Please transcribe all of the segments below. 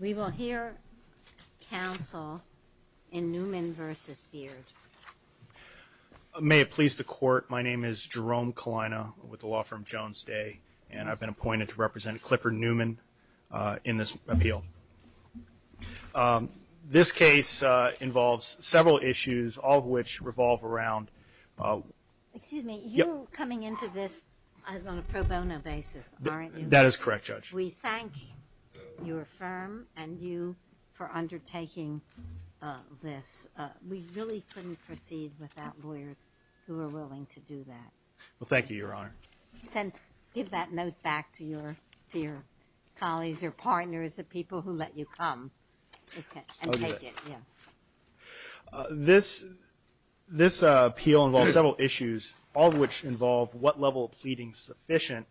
We will hear counsel in Newman v. Beard. May it please the court, my name is Jerome Kalina with the law firm Jones Day and I've been appointed to represent Clifford Newman in this appeal. This case involves several issues, all of which revolve around Excuse me, you're coming into this as on a pro bono basis, aren't you? That is correct, Judge. We thank your firm and you for undertaking this. We really couldn't proceed without lawyers who are willing to do that. Well, thank you, Your Honor. Give that note back to your colleagues, your partners, the people who let you come and take it. This appeal involves several issues, all of which involve what level of pleading is sufficient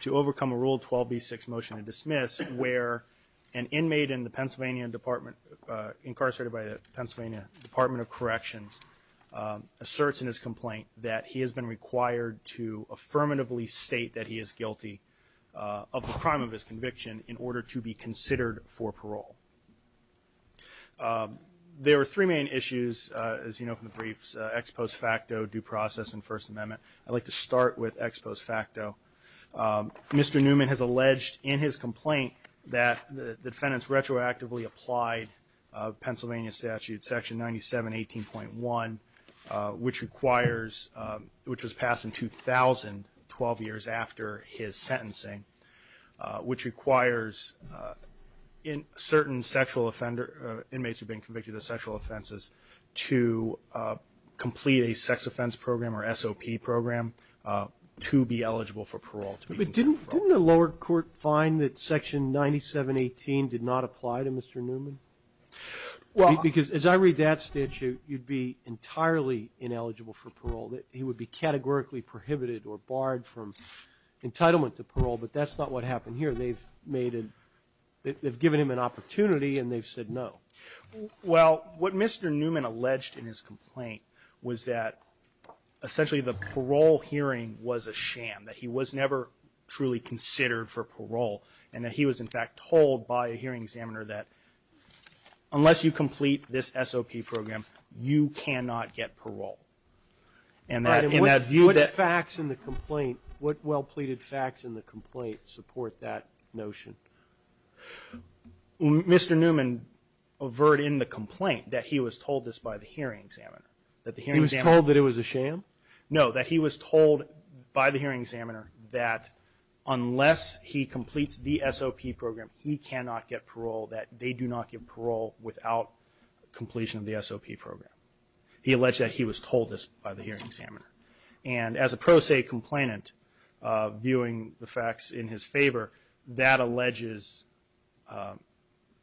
to overcome a Rule 12b6 motion to dismiss where an inmate in the Pennsylvania Department, incarcerated by the Pennsylvania Department of Corrections, asserts in his complaint that he has been required to affirmatively state that he is guilty of the crime of his conviction in order to be considered for parole. There are three main issues, as you know from the briefs, ex post facto, due process, and First Amendment. I'd like to start with ex post facto. Mr. Newman has alleged in his complaint that the defendants retroactively applied Pennsylvania Statute Section 9718.1, which was passed in 2000, 12 years after his sentencing, which requires certain inmates who have been convicted of sexual offenses to complete a sex offense program or SOP program to be eligible for parole. But didn't the lower court find that Section 9718 did not apply to Mr. Newman? Because as I read that statute, you'd be entirely ineligible for parole. He would be categorically prohibited or barred from entitlement to parole. But that's not what happened here. They've made a – they've given him an opportunity, and they've said no. Well, what Mr. Newman alleged in his complaint was that essentially the parole hearing was a sham, that he was never truly considered for parole, and that he was in fact told by a hearing examiner that unless you complete this SOP program, you cannot get parole. And that in that view that – What facts in the complaint – what well-pleaded facts in the complaint support that notion? Mr. Newman averred in the complaint that he was told this by the hearing examiner, that the hearing examiner – He was told that it was a sham? No, that he was told by the hearing examiner that unless he completes the SOP program, he cannot get parole, that they do not get parole without completion of the SOP program. He alleged that he was told this by the hearing examiner. And as a pro se complainant, viewing the facts in his favor, that alleges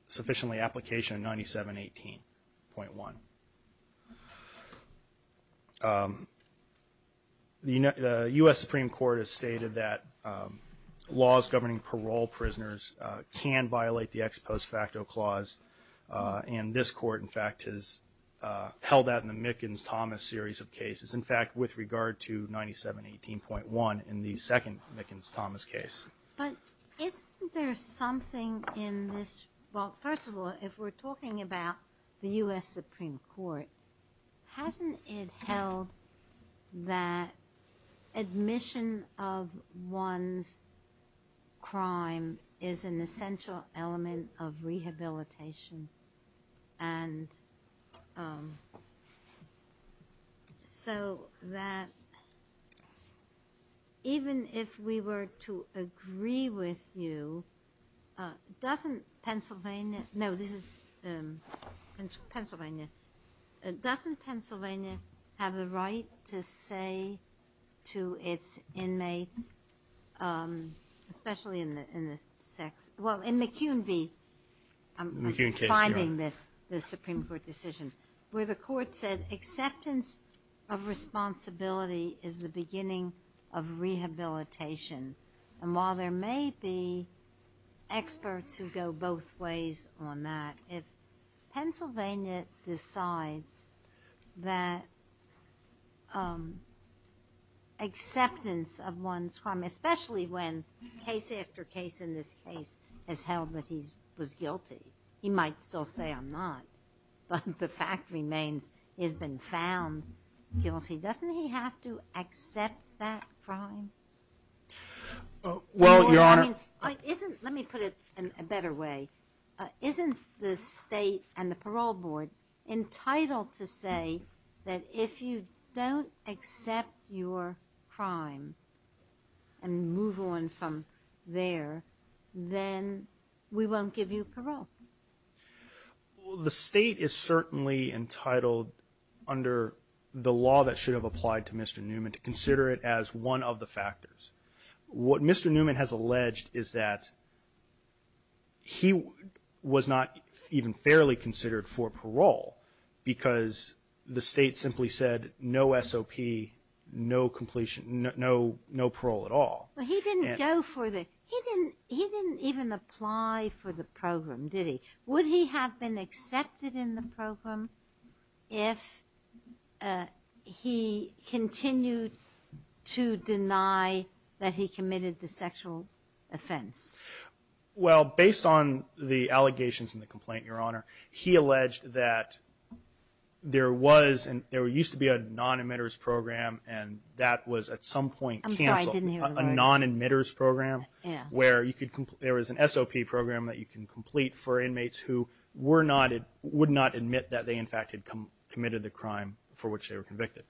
sufficiently application 9718.1. The U.S. Supreme Court has stated that laws governing parole prisoners can violate the ex post facto clause, and this court in fact has held that in the Mickens-Thomas series of cases. In fact, with regard to 9718.1 in the second Mickens-Thomas case. But isn't there something in this – Well, first of all, if we're talking about the U.S. Supreme Court, hasn't it held that admission of one's crime is an essential element of rehabilitation? And so that even if we were to agree with you, doesn't Pennsylvania – no, this is Pennsylvania. Doesn't Pennsylvania have the right to say to its inmates, especially in the sex – Well, in McEwen v. – McEwen case, yeah. I'm finding that the Supreme Court decision, where the court said acceptance of responsibility is the beginning of rehabilitation. And while there may be experts who go both ways on that, if Pennsylvania decides that acceptance of one's crime, especially when case after case in this case has held that he was guilty – he might still say I'm not, but the fact remains he has been found guilty – doesn't he have to accept that crime? Well, Your Honor – Let me put it in a better way. Isn't the state and the parole board entitled to say that if you don't accept your crime and move on from there, then we won't give you parole? Well, the state is certainly entitled, under the law that should have applied to Mr. Newman, to consider it as one of the factors. What Mr. Newman has alleged is that he was not even fairly considered for parole because the state simply said no SOP, no parole at all. But he didn't go for the – he didn't even apply for the program, did he? Would he have been accepted in the program if he continued to deny that he committed the sexual offense? Well, based on the allegations in the complaint, Your Honor, he alleged that there was – there used to be a non-admitters program, and that was at some point canceled. I'm sorry, I didn't hear the word. A non-admitters program where you could – there was an SOP program that you can complete for inmates who were not – would not admit that they in fact had committed the crime for which they were convicted.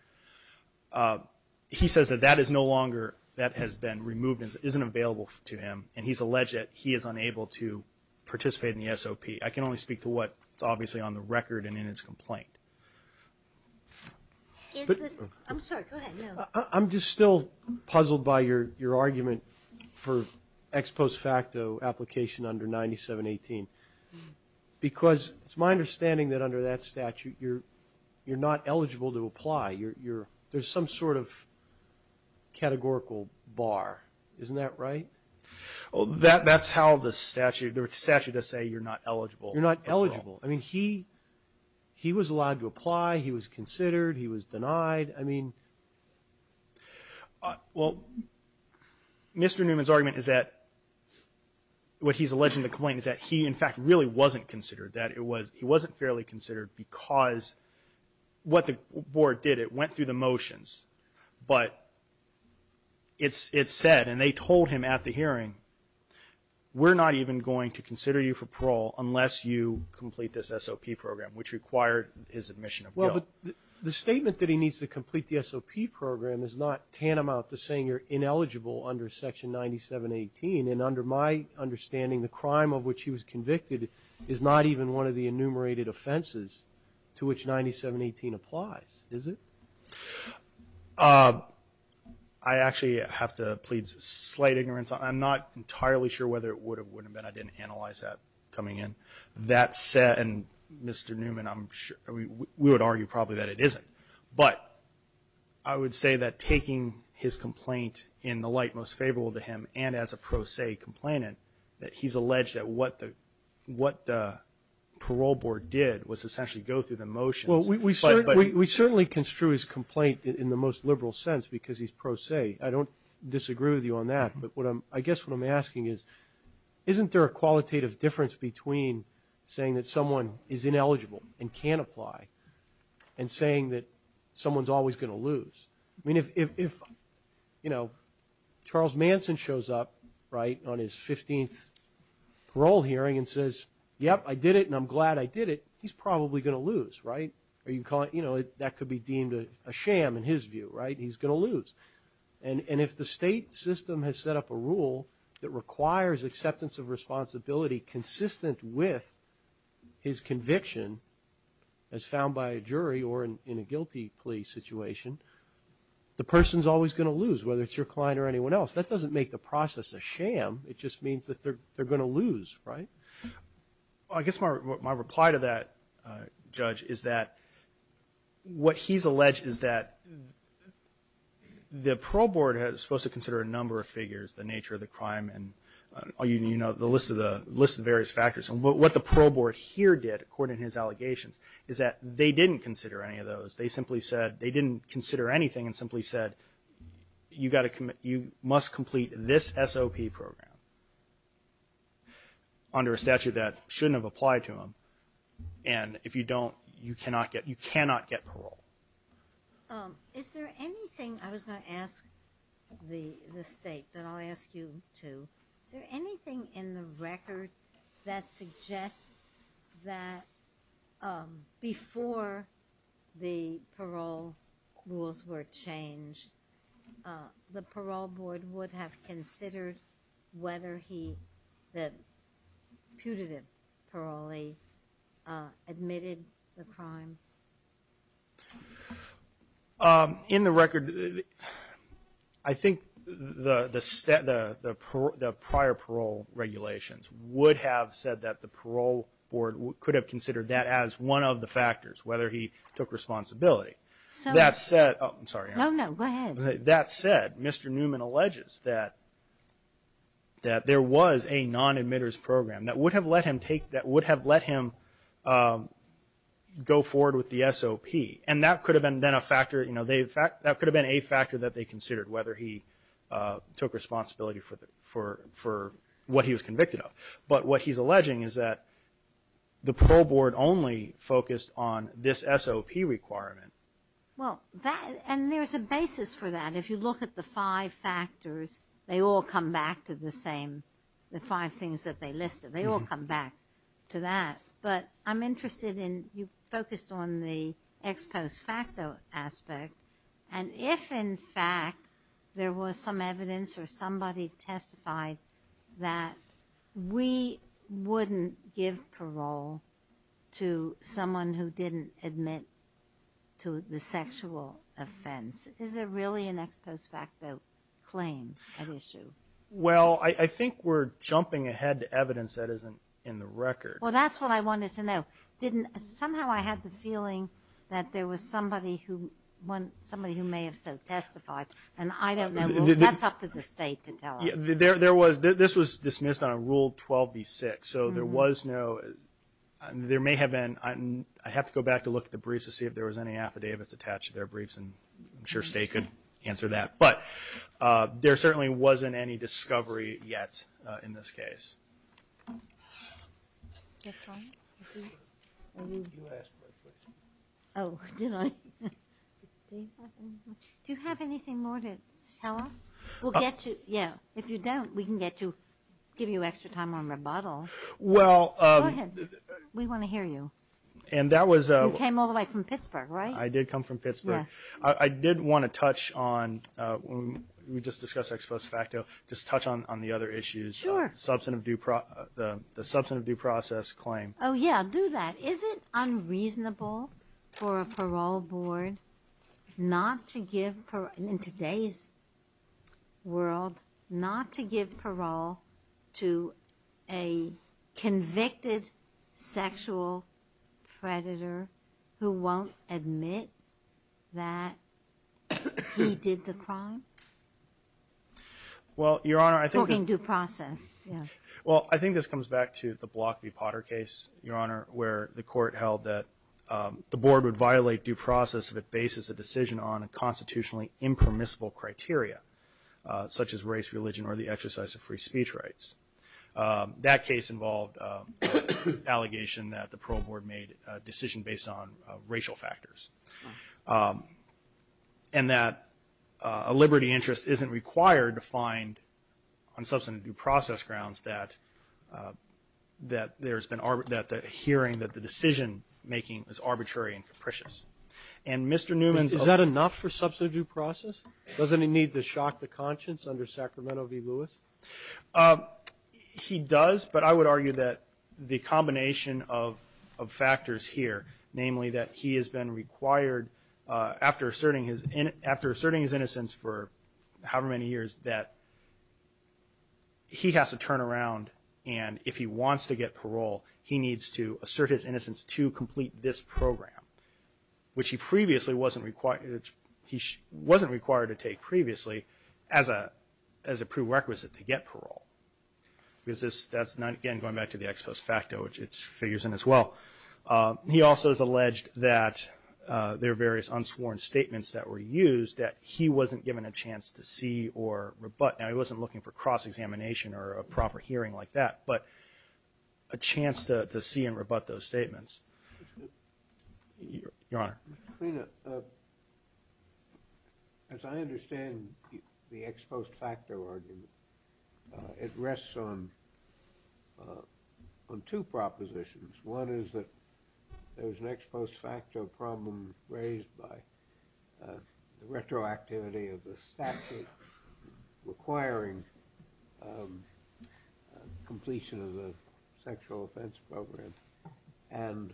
He says that that is no longer – that has been removed and isn't available to him, and he's alleged that he is unable to participate in the SOP. I can only speak to what is obviously on the record and in his complaint. Is this – I'm sorry, go ahead. I'm just still puzzled by your argument for ex post facto application under 9718 because it's my understanding that under that statute you're not eligible to apply. There's some sort of categorical bar. Isn't that right? That's how the statute – the statute does say you're not eligible. You're not eligible. I mean, he was allowed to apply. He was considered. He was denied. I mean – Well, Mr. Newman's argument is that – what he's alleging in the complaint is that he in fact really wasn't considered, that he wasn't fairly considered because what the board did, it went through the motions, but it said, and they told him at the hearing, we're not even going to consider you for parole unless you complete this SOP program, which required his admission of guilt. Well, but the statement that he needs to complete the SOP program is not tantamount to saying you're ineligible under Section 9718, and under my understanding, the crime of which he was convicted is not even one of the enumerated offenses to which 9718 applies, is it? I actually have to plead slight ignorance. I'm not entirely sure whether it would or wouldn't have been. I didn't analyze that coming in. That said, and Mr. Newman, we would argue probably that it isn't. But I would say that taking his complaint in the light most favorable to him and as a pro se complainant, that he's alleged that what the parole board did was essentially go through the motions. Well, we certainly construe his complaint in the most liberal sense because he's pro se. I don't disagree with you on that, but I guess what I'm asking is, isn't there a qualitative difference between saying that someone is ineligible and can't apply and saying that someone's always going to lose? I mean, if Charles Manson shows up on his 15th parole hearing and says, yep, I did it and I'm glad I did it, he's probably going to lose, right? That could be deemed a sham in his view, right? He's going to lose. And if the state system has set up a rule that requires acceptance of responsibility consistent with his conviction as found by a jury or in a guilty plea situation, the person's always going to lose, whether it's your client or anyone else. That doesn't make the process a sham. It just means that they're going to lose, right? Well, I guess my reply to that, Judge, is that what he's alleged is that the parole board is supposed to consider a number of figures, the nature of the crime, and the list of various factors. And what the parole board here did, according to his allegations, is that they didn't consider any of those. They simply said they didn't consider anything and simply said, you must complete this SOP program under a statute that shouldn't have applied to him. And if you don't, you cannot get parole. Is there anything – I was going to ask the state, but I'll ask you too. Is there anything in the record that suggests that before the parole rules were changed, the parole board would have considered whether he, the putative parolee, admitted the crime? In the record, I think the prior parole regulations would have said that the parole board could have considered that as one of the factors, whether he took responsibility. That said – oh, I'm sorry. No, no, go ahead. That said, Mr. Newman alleges that there was a non-admitter's program that would have let him go forward with the SOP, and that could have been a factor that they considered, whether he took responsibility for what he was convicted of. But what he's alleging is that the parole board only focused on this SOP requirement. Well, and there's a basis for that. If you look at the five factors, they all come back to the same – the five factors that they listed, they all come back to that. But I'm interested in – you focused on the ex post facto aspect, and if, in fact, there was some evidence or somebody testified that we wouldn't give parole to someone who didn't admit to the sexual offense, is there really an ex post facto claim at issue? Well, I think we're jumping ahead to evidence that isn't in the record. Well, that's what I wanted to know. Somehow I had the feeling that there was somebody who may have so testified, and I don't know. That's up to the state to tell us. There was – this was dismissed on a Rule 12b-6, so there was no – there may have been – I have to go back to look at the briefs to see if there was any affidavits attached to their briefs, and I'm sure State could answer that. But there certainly wasn't any discovery yet in this case. Do you have anything more to tell us? We'll get you – yeah. If you don't, we can get you – give you extra time on rebuttal. Well – Go ahead. We want to hear you. And that was – You came all the way from Pittsburgh, right? I did come from Pittsburgh. Yeah. I did want to touch on – we just discussed ex post facto. Just touch on the other issues. Sure. The substantive due process claim. Oh, yeah. I'll do that. Is it unreasonable for a parole board not to give – that he did the crime? Well, Your Honor, I think – Talking due process, yeah. Well, I think this comes back to the Block v. Potter case, Your Honor, where the court held that the board would violate due process if it bases a decision on a constitutionally impermissible criteria, such as race, religion, or the exercise of free speech rights. That case involved an allegation that the parole board made a decision based on racial factors. And that a liberty interest isn't required to find, on substantive due process grounds, that there's been – that the hearing, that the decision-making is arbitrary and capricious. And Mr. Newman's – Is that enough for substantive due process? He does, but I would argue that the combination of factors here, namely that he has been required, after asserting his innocence for however many years, that he has to turn around. And if he wants to get parole, he needs to assert his innocence to complete this program, which he previously wasn't required to take previously as a prerequisite to get parole. Because that's, again, going back to the ex post facto, which it figures in as well. He also has alleged that there are various unsworn statements that were used that he wasn't given a chance to see or rebut. Now, he wasn't looking for cross-examination or a proper hearing like that, but a chance to see and rebut those statements. Your Honor. Mr. Kleiner, as I understand the ex post facto argument, it rests on two propositions. One is that there was an ex post facto problem raised by the retroactivity of the statute requiring completion of the sexual offense program. And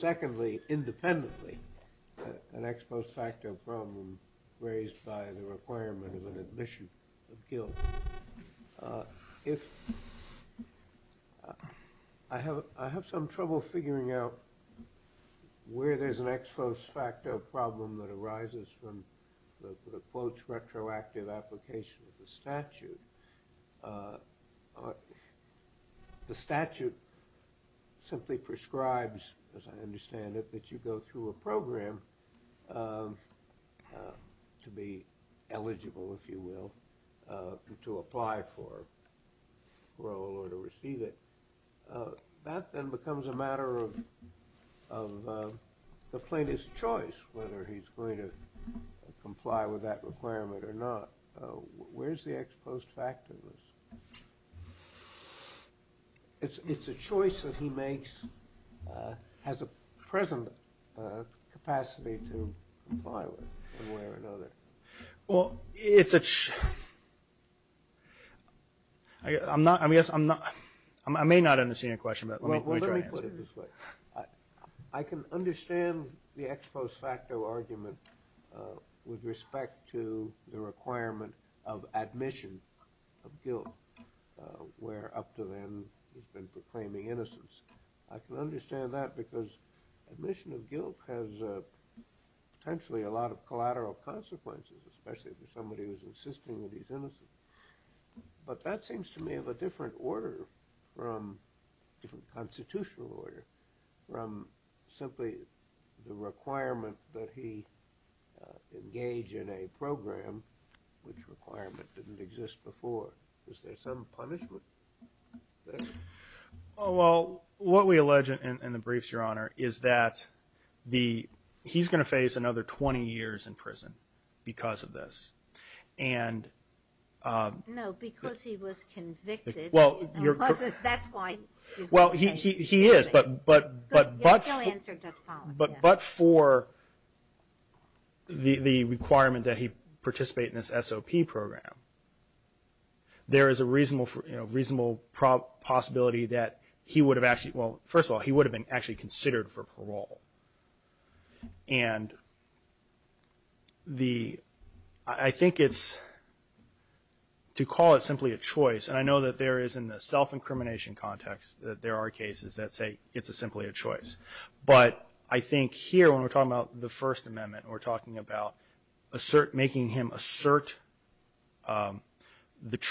secondly, independently, an ex post facto problem raised by the requirement of an admission of guilt. I have some trouble figuring out where there's an ex post facto problem that arises from the, quote, retroactive application of the statute. The statute simply prescribes, as I understand it, that you go through a program to be eligible, if you will, to apply for parole or to receive it. That then becomes a matter of the plaintiff's choice, whether he's going to comply with that requirement or not. Where's the ex post facto? It's a choice that he makes, has a present capacity to comply with in one way or another. Well, it's a... I'm not, I guess I'm not, I may not understand your question, but let me try to answer it. Well, let me put it this way. I can understand the ex post facto argument with respect to the requirement of admission of guilt, where up to then he's been proclaiming innocence. I can understand that because admission of guilt has potentially a lot of collateral consequences, especially if it's somebody who's insisting that he's innocent. But that seems to me of a different order from a different constitutional order, from simply the requirement that he engage in a program, which requirement didn't exist before. Is there some punishment there? Oh, well, what we allege in the briefs, Your Honor, is that he's going to face another 20 years in prison because of this. And... No, because he was convicted. Well, you're... Because that's why he's going to face 20 years. Well, he is, but... But he'll answer that following. But for the requirement that he participate in this SOP program, there is a reasonable possibility that he would have actually, well, first of all, he would have been actually considered for parole. And the, I think it's, to call it simply a choice, and I know that there is in the self-incrimination context that there are cases that say it's simply a choice. But I think here when we're talking about the First Amendment and we're talking about making him assert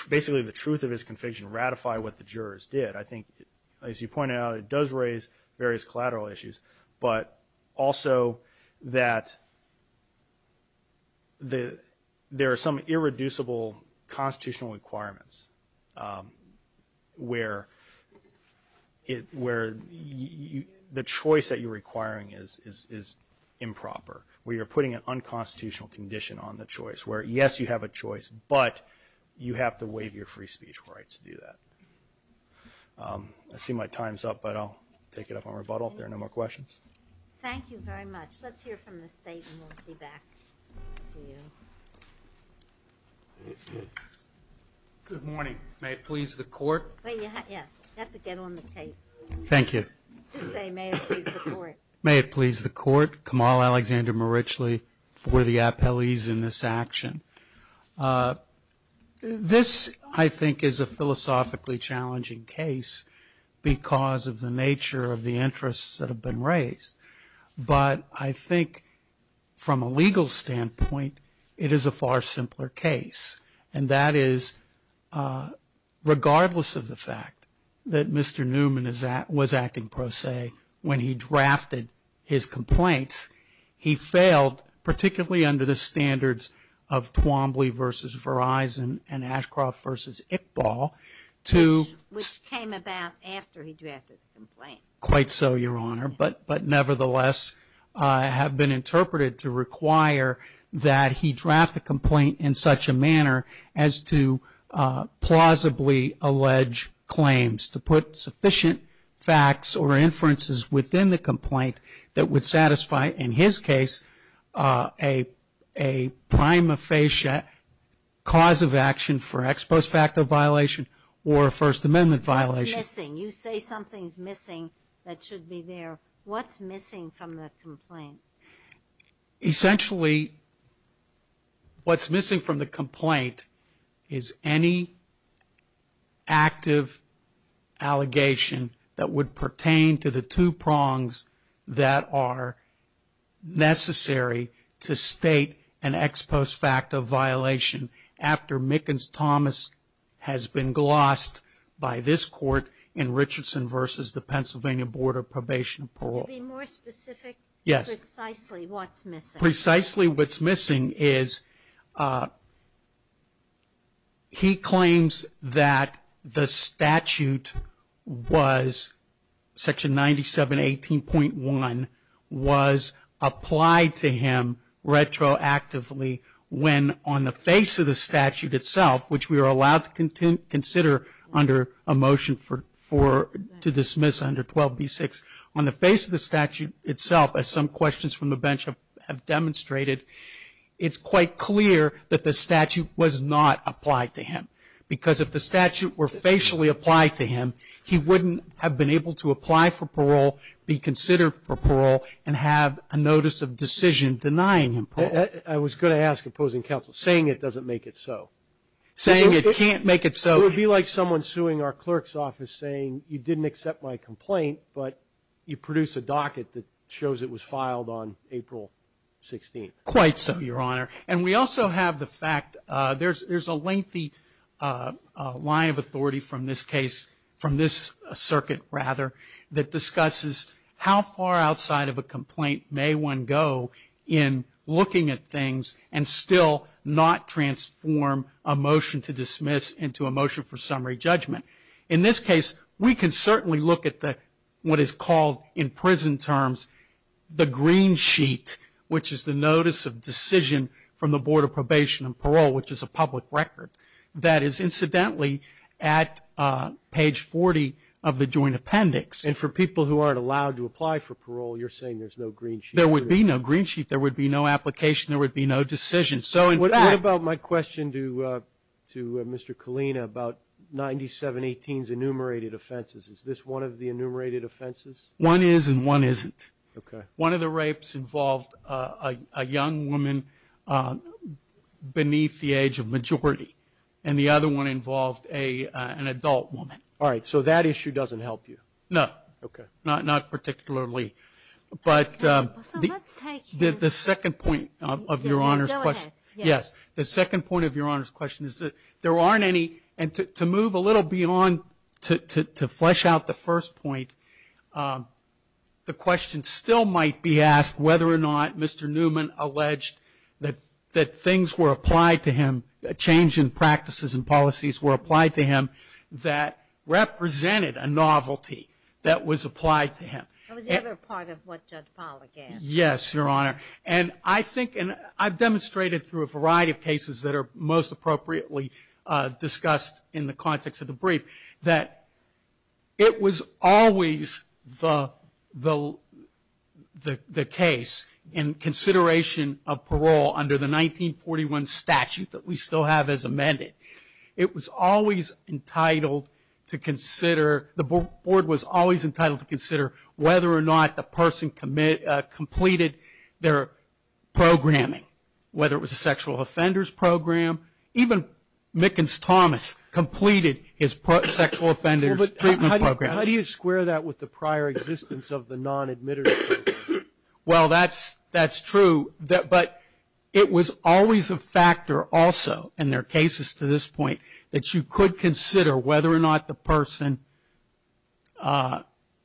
basically the truth of his conviction, ratify what the jurors did, I think, as you pointed out, it does raise various collateral issues, but also that there are some irreducible constitutional requirements where the choice that you're requiring is improper, where you're putting an unconstitutional condition on the choice, where, yes, you have a choice, but you have to waive your free speech rights to do that. I see my time's up, but I'll take it up on rebuttal. If there are no more questions. Thank you very much. Let's hear from the State and we'll be back to you. Good morning. May it please the Court. Yeah, you have to get on the tape. Thank you. Just say, may it please the Court. May it please the Court. Kamal Alexander Marichli for the appellees in this action. This, I think, is a philosophically challenging case because of the nature of the interests that have been raised. But I think from a legal standpoint, it is a far simpler case, and that is regardless of the fact that Mr. Newman was acting pro se when he drafted his complaints, he failed particularly under the standards of Twombly versus Verizon and Ashcroft versus Iqbal to- Which came about after he drafted the complaint. Quite so, Your Honor. But nevertheless, it had been interpreted to require that he draft a complaint in such a manner as to plausibly allege claims, to put sufficient facts or inferences within the complaint that would satisfy, in his case, a prima facie cause of action for ex post facto violation or a First Amendment violation. What's missing? You say something's missing that should be there. What's missing from the complaint? Essentially, what's missing from the complaint is any active allegation that would pertain to the two prongs that are necessary to state an ex post facto violation after Mickens-Thomas has been glossed by this court in Richardson versus the Pennsylvania Board of Probation and Parole. Could you be more specific? Yes. Precisely what's missing? Precisely what's missing is he claims that the statute was, Section 9718.1, was applied to him retroactively when, on the face of the statute itself, which we are allowed to consider under a motion to dismiss under 12b-6, on the face of the statute itself, as some questions from the bench have demonstrated, it's quite clear that the statute was not applied to him. Because if the statute were facially applied to him, he wouldn't have been able to apply for parole, be considered for parole, and have a notice of decision denying him parole. I was going to ask, opposing counsel, saying it doesn't make it so. Saying it can't make it so. It would be like someone suing our clerk's office saying, you didn't accept my complaint, but you produced a docket that shows it was filed on April 16th. Quite so, Your Honor. And we also have the fact there's a lengthy line of authority from this case, from this circuit, rather, that discusses how far outside of a complaint may one go in looking at things and still not transform a motion to dismiss into a motion for summary judgment. In this case, we can certainly look at what is called in prison terms the green sheet, which is the notice of decision from the Board of Probation and Parole, which is a public record that is, incidentally, at page 40 of the joint appendix. And for people who aren't allowed to apply for parole, you're saying there's no green sheet? There would be no green sheet. There would be no application. There would be no decision. What about my question to Mr. Colina about 9718's enumerated offenses? Is this one of the enumerated offenses? One is and one isn't. One of the rapes involved a young woman beneath the age of majority, and the other one involved an adult woman. All right, so that issue doesn't help you? No, not particularly. But the second point of Your Honor's question is that there aren't any and to move a little beyond to flesh out the first point, the question still might be asked whether or not Mr. Newman alleged that things were applied to him, Yes, Your Honor. And I think and I've demonstrated through a variety of cases that are most appropriately discussed in the context of the brief that it was always the case in consideration of parole under the 1941 statute that we still have as amended. It was always entitled to consider, the board was always entitled to consider whether or not the person completed their programming, whether it was a sexual offenders program. Even Mickens-Thomas completed his sexual offenders treatment program. How do you square that with the prior existence of the non-admitted program? Well, that's true, but it was always a factor also in their cases to this point that you could consider whether or not the person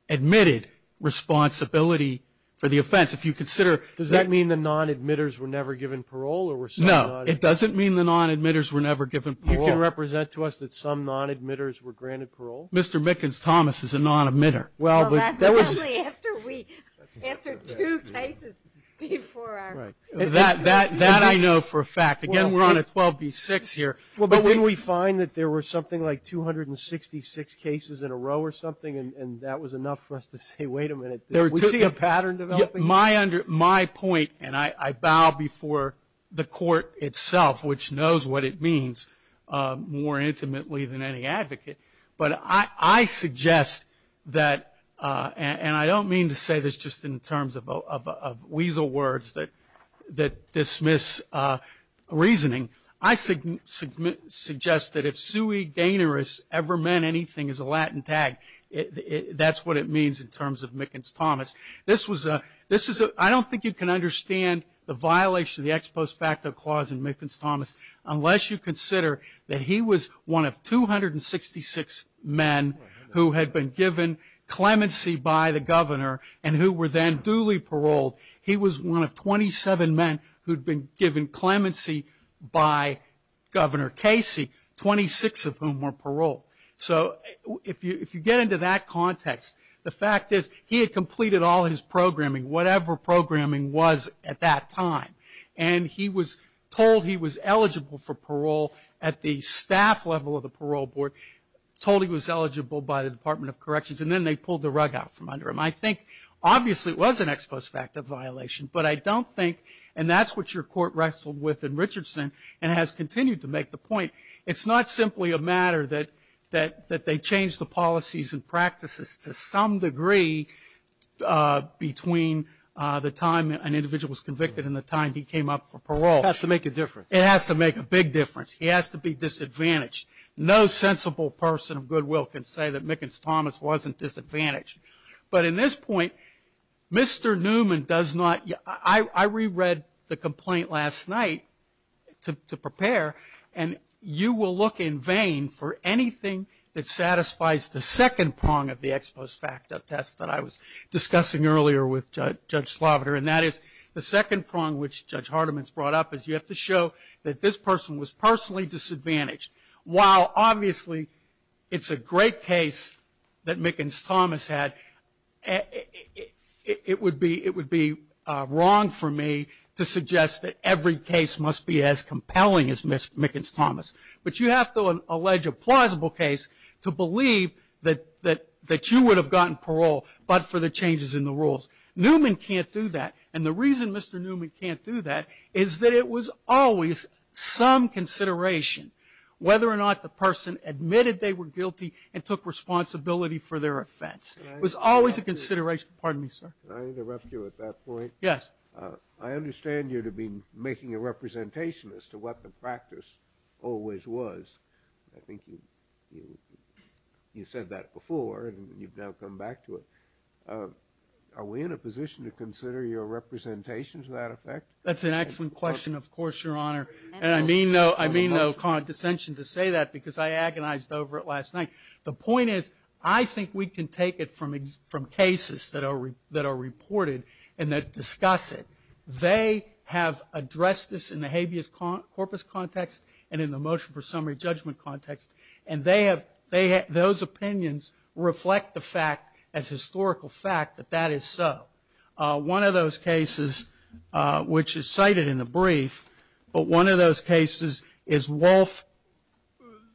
admitted responsibility for the offense. If you consider Does that mean the non-admitters were never given parole? No, it doesn't mean the non-admitters were never given parole. You can represent to us that some non-admitters were granted parole? Mr. Mickens-Thomas is a non-admitter. Well, that was After two cases before our That I know for a fact. Again, we're on a 12B6 here. Well, but didn't we find that there were something like 266 cases in a row or something, and that was enough for us to say, wait a minute, we see a pattern developing? My point, and I bow before the court itself, which knows what it means more intimately than any advocate, but I suggest that, and I don't mean to say this just in terms of weasel words that dismiss reasoning. I suggest that if sui generis ever meant anything as a Latin tag, that's what it means in terms of Mickens-Thomas. I don't think you can understand the violation of the ex post facto clause in Mickens-Thomas unless you consider that he was one of 266 men who had been given clemency by the governor and who were then duly paroled. He was one of 27 men who'd been given clemency by Governor Casey, 26 of whom were paroled. So if you get into that context, the fact is he had completed all his programming, whatever programming was at that time, and he was told he was eligible for parole at the staff level of the parole board, told he was eligible by the Department of Corrections, and then they pulled the rug out from under him. I think obviously it was an ex post facto violation, but I don't think, and that's what your court wrestled with in Richardson and has continued to make the point, it's not simply a matter that they changed the policies and practices to some degree between the time an individual was convicted and the time he came up for parole. It has to make a difference. It has to make a big difference. He has to be disadvantaged. No sensible person of goodwill can say that Mickens-Thomas wasn't disadvantaged. But in this point, Mr. Newman does not, I reread the complaint last night to prepare, and you will look in vain for anything that satisfies the second prong of the ex post facto test that I was discussing earlier with Judge Sloviter, and that is the second prong which Judge Hardiman's brought up is you have to show that this person was personally disadvantaged. While obviously it's a great case that Mickens-Thomas had, it would be wrong for me to suggest that every case must be as compelling as Mickens-Thomas. But you have to allege a plausible case to believe that you would have gotten parole but for the changes in the rules. Newman can't do that, and the reason Mr. Newman can't do that is that it was always some consideration. Whether or not the person admitted they were guilty and took responsibility for their offense. It was always a consideration. Pardon me, sir. Can I interrupt you at that point? Yes. I understand you to be making a representation as to what the practice always was. I think you said that before, and you've now come back to it. Are we in a position to consider your representation to that effect? That's an excellent question, of course, Your Honor. And I mean no condescension to say that because I agonized over it last night. The point is I think we can take it from cases that are reported and discuss it. They have addressed this in the habeas corpus context and in the motion for summary judgment context, and those opinions reflect the fact, as historical fact, that that is so. One of those cases, which is cited in the brief, but one of those cases is Wolf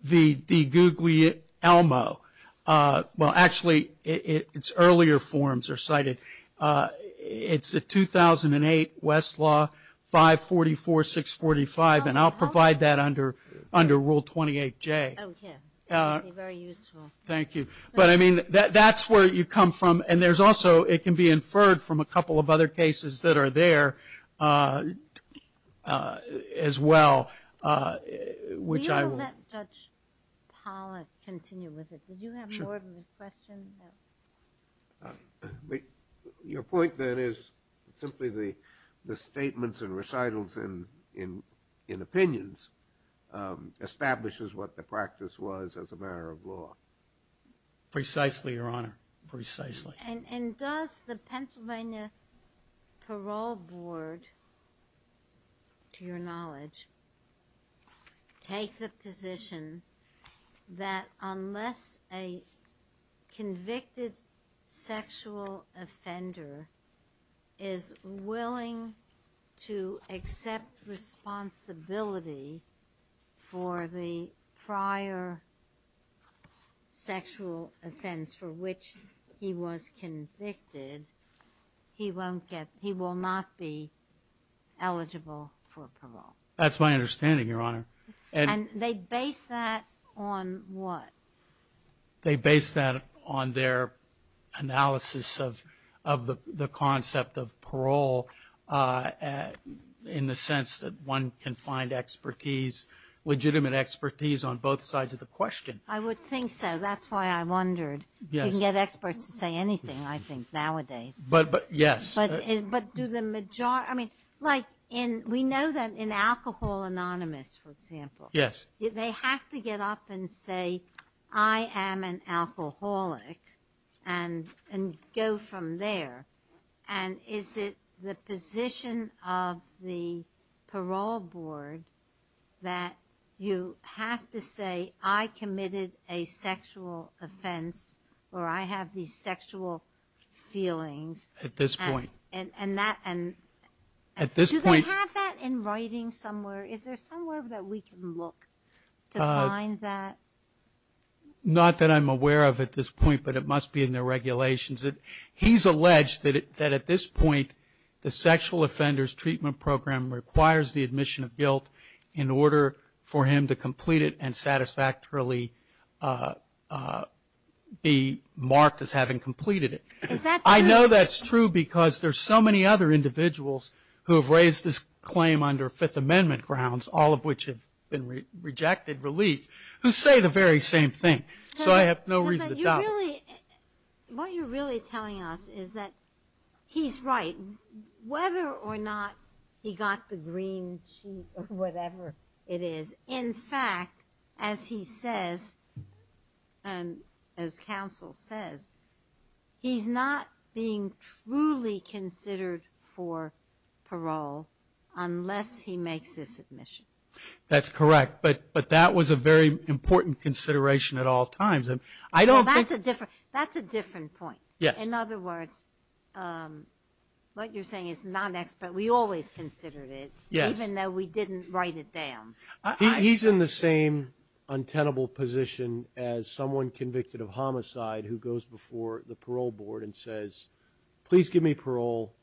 v. DiGuglielmo. Well, actually, its earlier forms are cited. It's a 2008 Westlaw 544-645, and I'll provide that under Rule 28J. Okay. Very useful. Thank you. But I mean that's where you come from. And there's also, it can be inferred from a couple of other cases that are there as well, which I will. We will let Judge Pollack continue with it. Did you have more of a question? Your point, then, is simply the statements and recitals in opinions establishes what the practice was as a matter of law. Precisely, Your Honor. Precisely. And does the Pennsylvania Parole Board, to your knowledge, take the position that unless a convicted sexual offender is willing to accept responsibility for the prior sexual offense for which he was convicted, he won't get, he will not be eligible for parole? That's my understanding, Your Honor. And they base that on what? They base that on their analysis of the concept of parole in the sense that one can find expertise, legitimate expertise on both sides of the question. I would think so. That's why I wondered. Yes. You can get experts to say anything, I think, nowadays. But, yes. But do the majority, I mean, like in, we know that in Alcohol Anonymous, for example. Yes. They have to get up and say, I am an alcoholic, and go from there. And is it the position of the parole board that you have to say, I committed a sexual offense, or I have these sexual feelings. At this point. And that, and. At this point. Do you have that in writing somewhere? Is there somewhere that we can look to find that? Not that I'm aware of at this point, but it must be in the regulations. He's alleged that at this point, the sexual offenders treatment program requires the admission of guilt in order for him to complete it and satisfactorily be marked as having completed it. Is that true? I know that's true because there's so many other individuals who have raised this claim under Fifth Amendment grounds, all of which have been rejected, released, who say the very same thing. So I have no reason to doubt it. What you're really telling us is that he's right, whether or not he got the green sheet or whatever it is. In fact, as he says, and as counsel says, he's not being truly considered for parole unless he makes this admission. That's correct. But that was a very important consideration at all times. I don't think. That's a different point. Yes. In other words, what you're saying is non-expert. We always considered it. Yes. Even though we didn't write it down. He's in the same untenable position as someone convicted of homicide who goes before the parole board and says, please give me parole.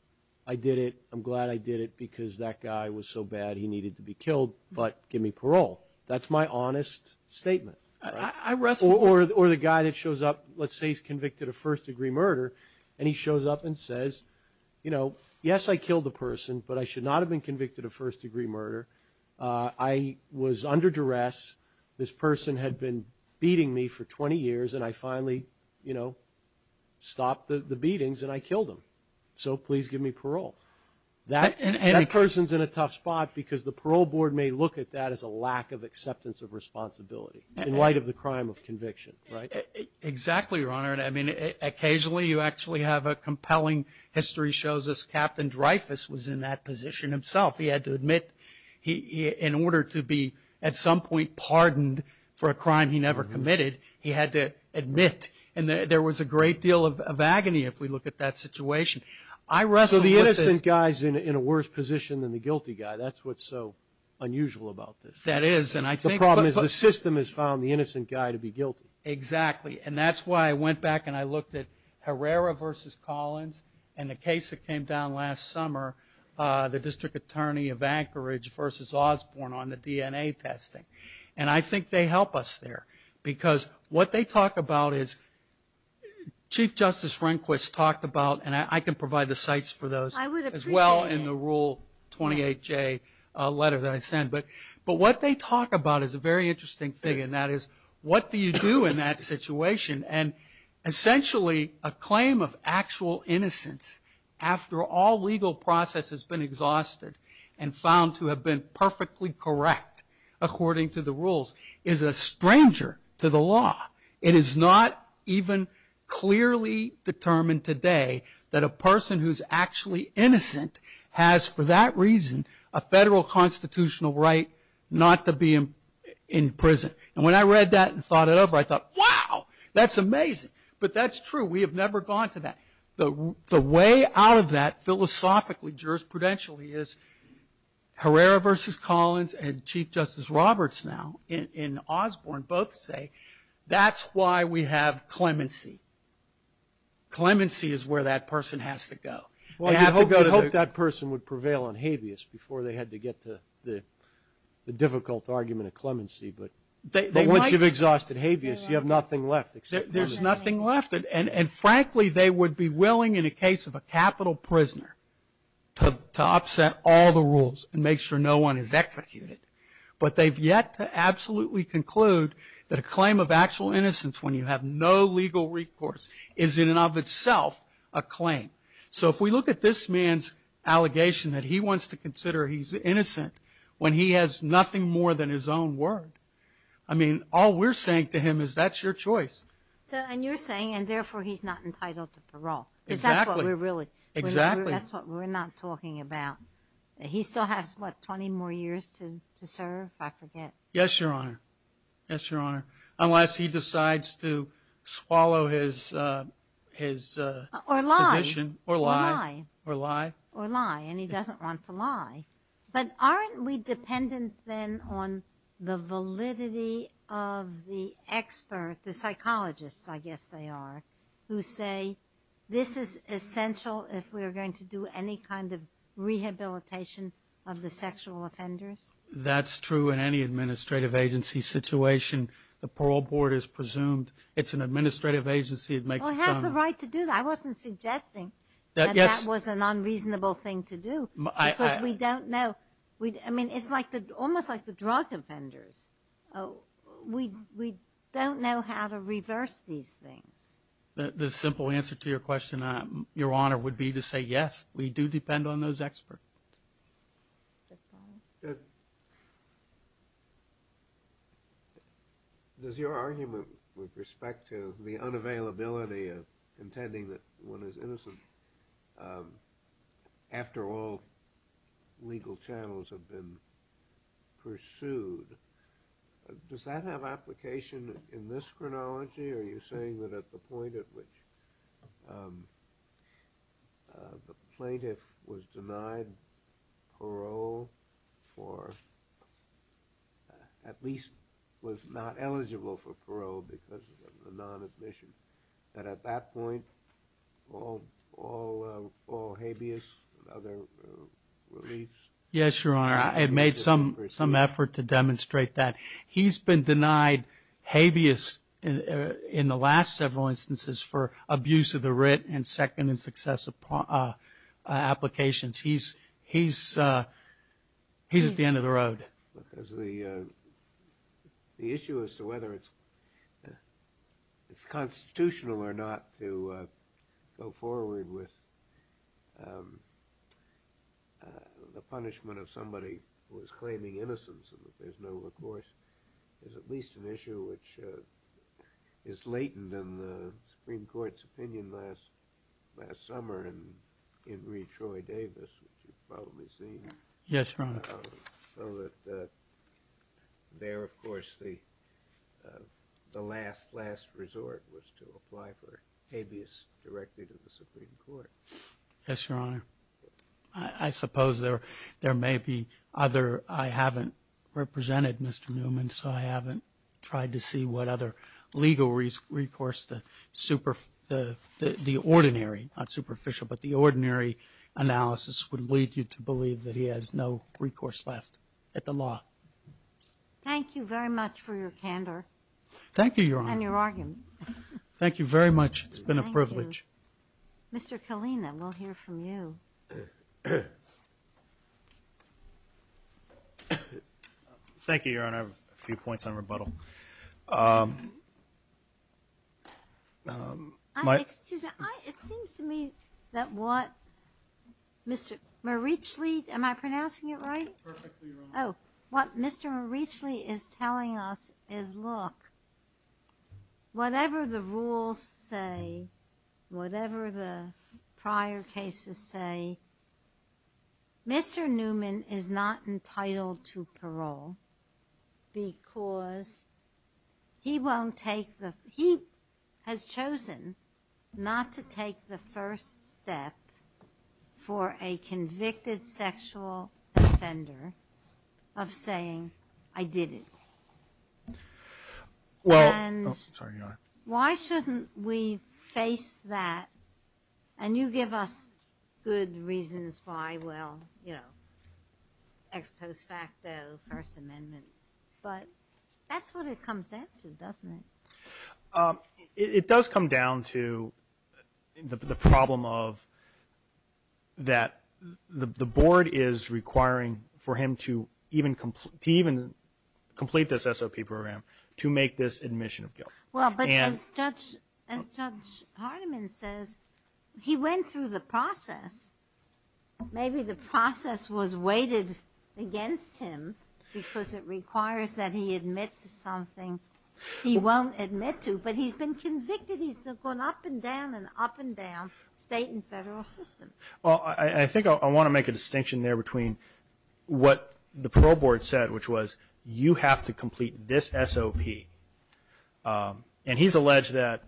I did it. I'm glad I did it because that guy was so bad he needed to be killed, but give me parole. That's my honest statement. Or the guy that shows up, let's say he's convicted of first-degree murder, and he shows up and says, you know, I've been convicted of first-degree murder. I was under duress. This person had been beating me for 20 years, and I finally, you know, stopped the beatings, and I killed him. So please give me parole. That person's in a tough spot because the parole board may look at that as a lack of acceptance of responsibility, in light of the crime of conviction, right? Exactly, Your Honor. I mean, occasionally you actually have a compelling history shows us Captain Dreyfus was in that position himself. He had to admit in order to be at some point pardoned for a crime he never committed, he had to admit. And there was a great deal of agony if we look at that situation. I wrestled with this. So the innocent guy's in a worse position than the guilty guy. That's what's so unusual about this. That is. The problem is the system has found the innocent guy to be guilty. Exactly. And that's why I went back and I looked at Herrera v. Collins and the case that came down last summer, the district attorney of Anchorage v. Osborne on the DNA testing. And I think they help us there because what they talk about is Chief Justice Rehnquist talked about, and I can provide the sites for those as well in the Rule 28J letter that I sent. But what they talk about is a very interesting thing, and that is what do you do in that situation? And essentially a claim of actual innocence after all legal process has been exhausted and found to have been perfectly correct according to the rules is a stranger to the law. It is not even clearly determined today that a person who's actually innocent has, for that reason, a federal constitutional right not to be in prison. And when I read that and thought it over, I thought, wow, that's amazing. But that's true. We have never gone to that. The way out of that philosophically, jurisprudentially, is Herrera v. Collins and Chief Justice Roberts now in Osborne both say that's why we have clemency. Clemency is where that person has to go. Well, you'd hope that person would prevail on habeas before they had to get to the difficult argument of clemency. But once you've exhausted habeas, you have nothing left except clemency. There's nothing left. And frankly, they would be willing in a case of a capital prisoner to upset all the rules and make sure no one is executed. But they've yet to absolutely conclude that a claim of actual innocence when you have no legal recourse is in and of itself a claim. So if we look at this man's allegation that he wants to consider he's innocent when he has nothing more than his own word, I mean, all we're saying to him is that's your choice. And you're saying, and therefore, he's not entitled to parole. Exactly. That's what we're not talking about. He still has, what, 20 more years to serve, I forget? Yes, Your Honor, unless he decides to swallow his position. Or lie. Or lie. Or lie. Or lie, and he doesn't want to lie. But aren't we dependent, then, on the validity of the expert, the psychologists, I guess they are, who say this is essential if we're going to do any kind of rehabilitation of the sexual offenders? That's true in any administrative agency situation. The parole board is presumed it's an administrative agency. Well, it has the right to do that. I wasn't suggesting that that was an unreasonable thing to do because we don't know. I mean, it's almost like the drug offenders. We don't know how to reverse these things. The simple answer to your question, Your Honor, would be to say, yes, we do depend on those experts. Does that follow? Does your argument with respect to the unavailability of intending that one is innocent after all legal channels have been pursued, does that have application in this chronology? Are you saying that at the point at which the plaintiff was denied parole for, at least was not eligible for parole because of the non-admission, that at that point all habeas and other reliefs? Yes, Your Honor. I made some effort to demonstrate that. He's been denied habeas in the last several instances for abuse of the writ and second and successive applications. He's at the end of the road. The issue as to whether it's constitutional or not to go forward with the punishment of somebody who is claiming innocence and that there's no recourse is at least an issue which is latent in the Supreme Court's opinion last summer in Reed Troy Davis, which you've probably seen. Yes, Your Honor. So that there, of course, the last, last resort was to apply for habeas directly to the Supreme Court. Yes, Your Honor. I suppose there may be other, I haven't represented Mr. Newman, so I haven't tried to see what other legal recourse, the ordinary, not superficial, but the ordinary analysis would lead you to believe that he has no recourse left at the law. Thank you very much for your candor. Thank you, Your Honor. And your argument. Thank you very much. It's been a privilege. Mr. Kalina, we'll hear from you. Thank you, Your Honor. I have a few points on rebuttal. It seems to me that what Mr. Marichle, am I pronouncing it right? Perfectly, Your Honor. Oh, what Mr. Marichle is telling us is, look, whatever the rules say, whatever the prior cases say, Mr. Newman is not entitled to parole because he won't take the, he has chosen not to take the first step for a convicted sexual offender of saying, I did it. And why shouldn't we face that, and you give us good reasons why, well, you know, ex post facto First Amendment. But that's what it comes down to, doesn't it? It does come down to the problem of that the board is requiring for him to even complete this SOP program to make this admission of guilt. Well, but as Judge Hardiman says, he went through the process. Maybe the process was weighted against him because it requires that he admit to something he won't admit to, but he's been convicted. He's gone up and down and up and down state and federal systems. Well, I think I want to make a distinction there between what the parole board said, which was you have to complete this SOP. And he's alleged that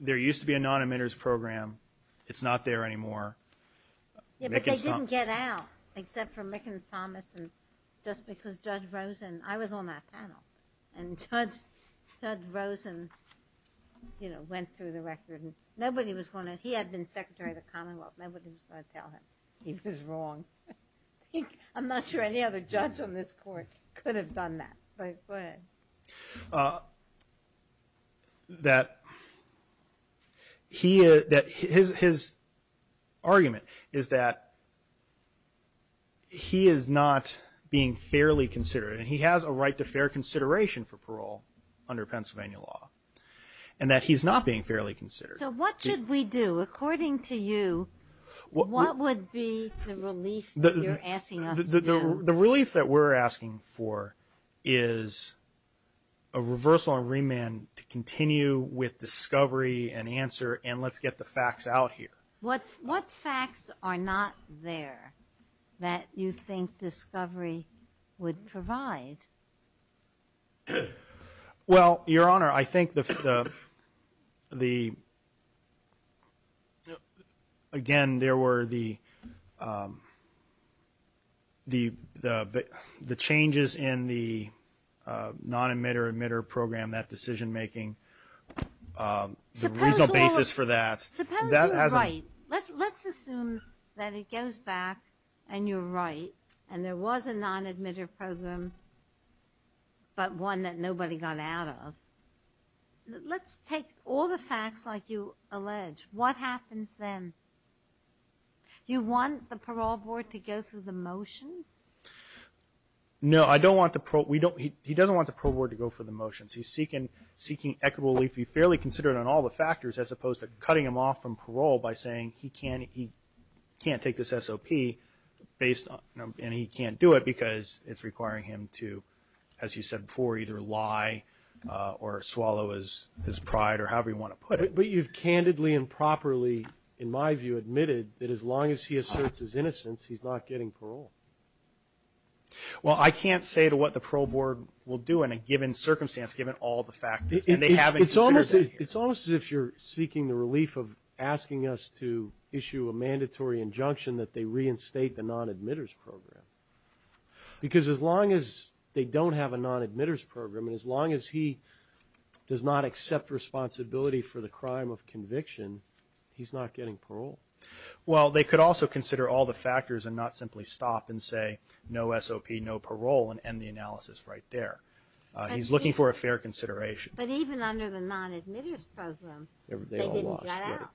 there used to be a non-admitters program. It's not there anymore. Yeah, but they didn't get out except for Mick and Thomas and just because Judge Rosen, I was on that panel, and Judge Rosen, you know, went through the record. Nobody was going to, he had been Secretary of the Commonwealth. Nobody was going to tell him he was wrong. I'm not sure any other judge on this court could have done that. Go ahead. His argument is that he is not being fairly considered, and he has a right to fair consideration for parole under Pennsylvania law, and that he's not being fairly considered. So what should we do? According to you, what would be the relief that you're asking us to do? The relief that we're asking for is a reversal and remand to continue with discovery and answer and let's get the facts out here. What facts are not there that you think discovery would provide? Well, Your Honor, I think the, again, there were the changes in the non-admitter-admitter program, that decision-making, the reasonable basis for that. Suppose you're right. Let's assume that it goes back and you're right and there was a non-admitter program, but one that nobody got out of. Let's take all the facts like you allege. What happens then? Do you want the parole board to go through the motions? No, I don't want the parole. He doesn't want the parole board to go through the motions. He's seeking equitable relief to be fairly considered on all the factors, as opposed to cutting him off from parole by saying he can't take this SOP and he can't do it because it's requiring him to, as you said before, either lie or swallow his pride or however you want to put it. But you've candidly and properly, in my view, admitted that as long as he asserts his innocence, he's not getting parole. Well, I can't say to what the parole board will do in a given circumstance, given all the factors, and they haven't considered that here. It's almost as if you're seeking the relief of asking us to issue a mandatory injunction that they reinstate the non-admitters program. Because as long as they don't have a non-admitters program and as long as he does not accept responsibility for the crime of conviction, he's not getting parole. Well, they could also consider all the factors and not simply stop and say, no SOP, no parole, and end the analysis right there. He's looking for a fair consideration. But even under the non-admitters program, they didn't get out.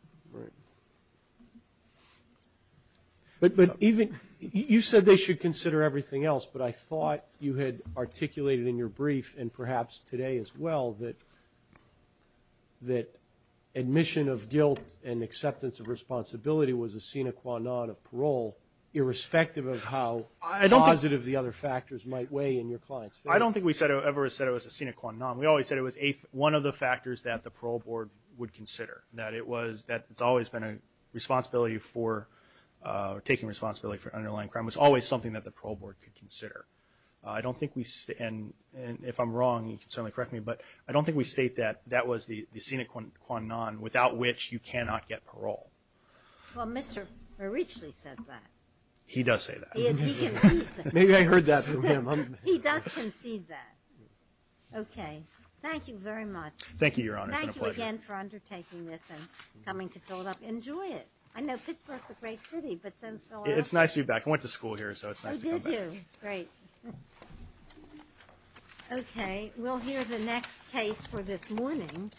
But you said they should consider everything else, but I thought you had articulated in your brief and perhaps today as well that admission of guilt and acceptance of responsibility was a sine qua non of parole, irrespective of how positive the other factors might weigh in your client's favor. I don't think we ever said it was a sine qua non. We always said it was one of the factors that the parole board would consider, that it's always been a responsibility for taking responsibility for underlying crime. It was always something that the parole board could consider. And if I'm wrong, you can certainly correct me, but I don't think we state that that was the sine qua non, without which you cannot get parole. Well, Mr. Richley says that. He does say that. He concedes that. Maybe I heard that from him. He does concede that. Okay. Thank you very much. Thank you, Your Honor. It's been a pleasure. Thank you again for undertaking this and coming to Philadelphia. Enjoy it. I know Pittsburgh's a great city, but since Philadelphia – It's nice of you to be back. I went to school here, so it's nice to come back. Oh, did you? Great. Okay. We'll hear the next case for this morning,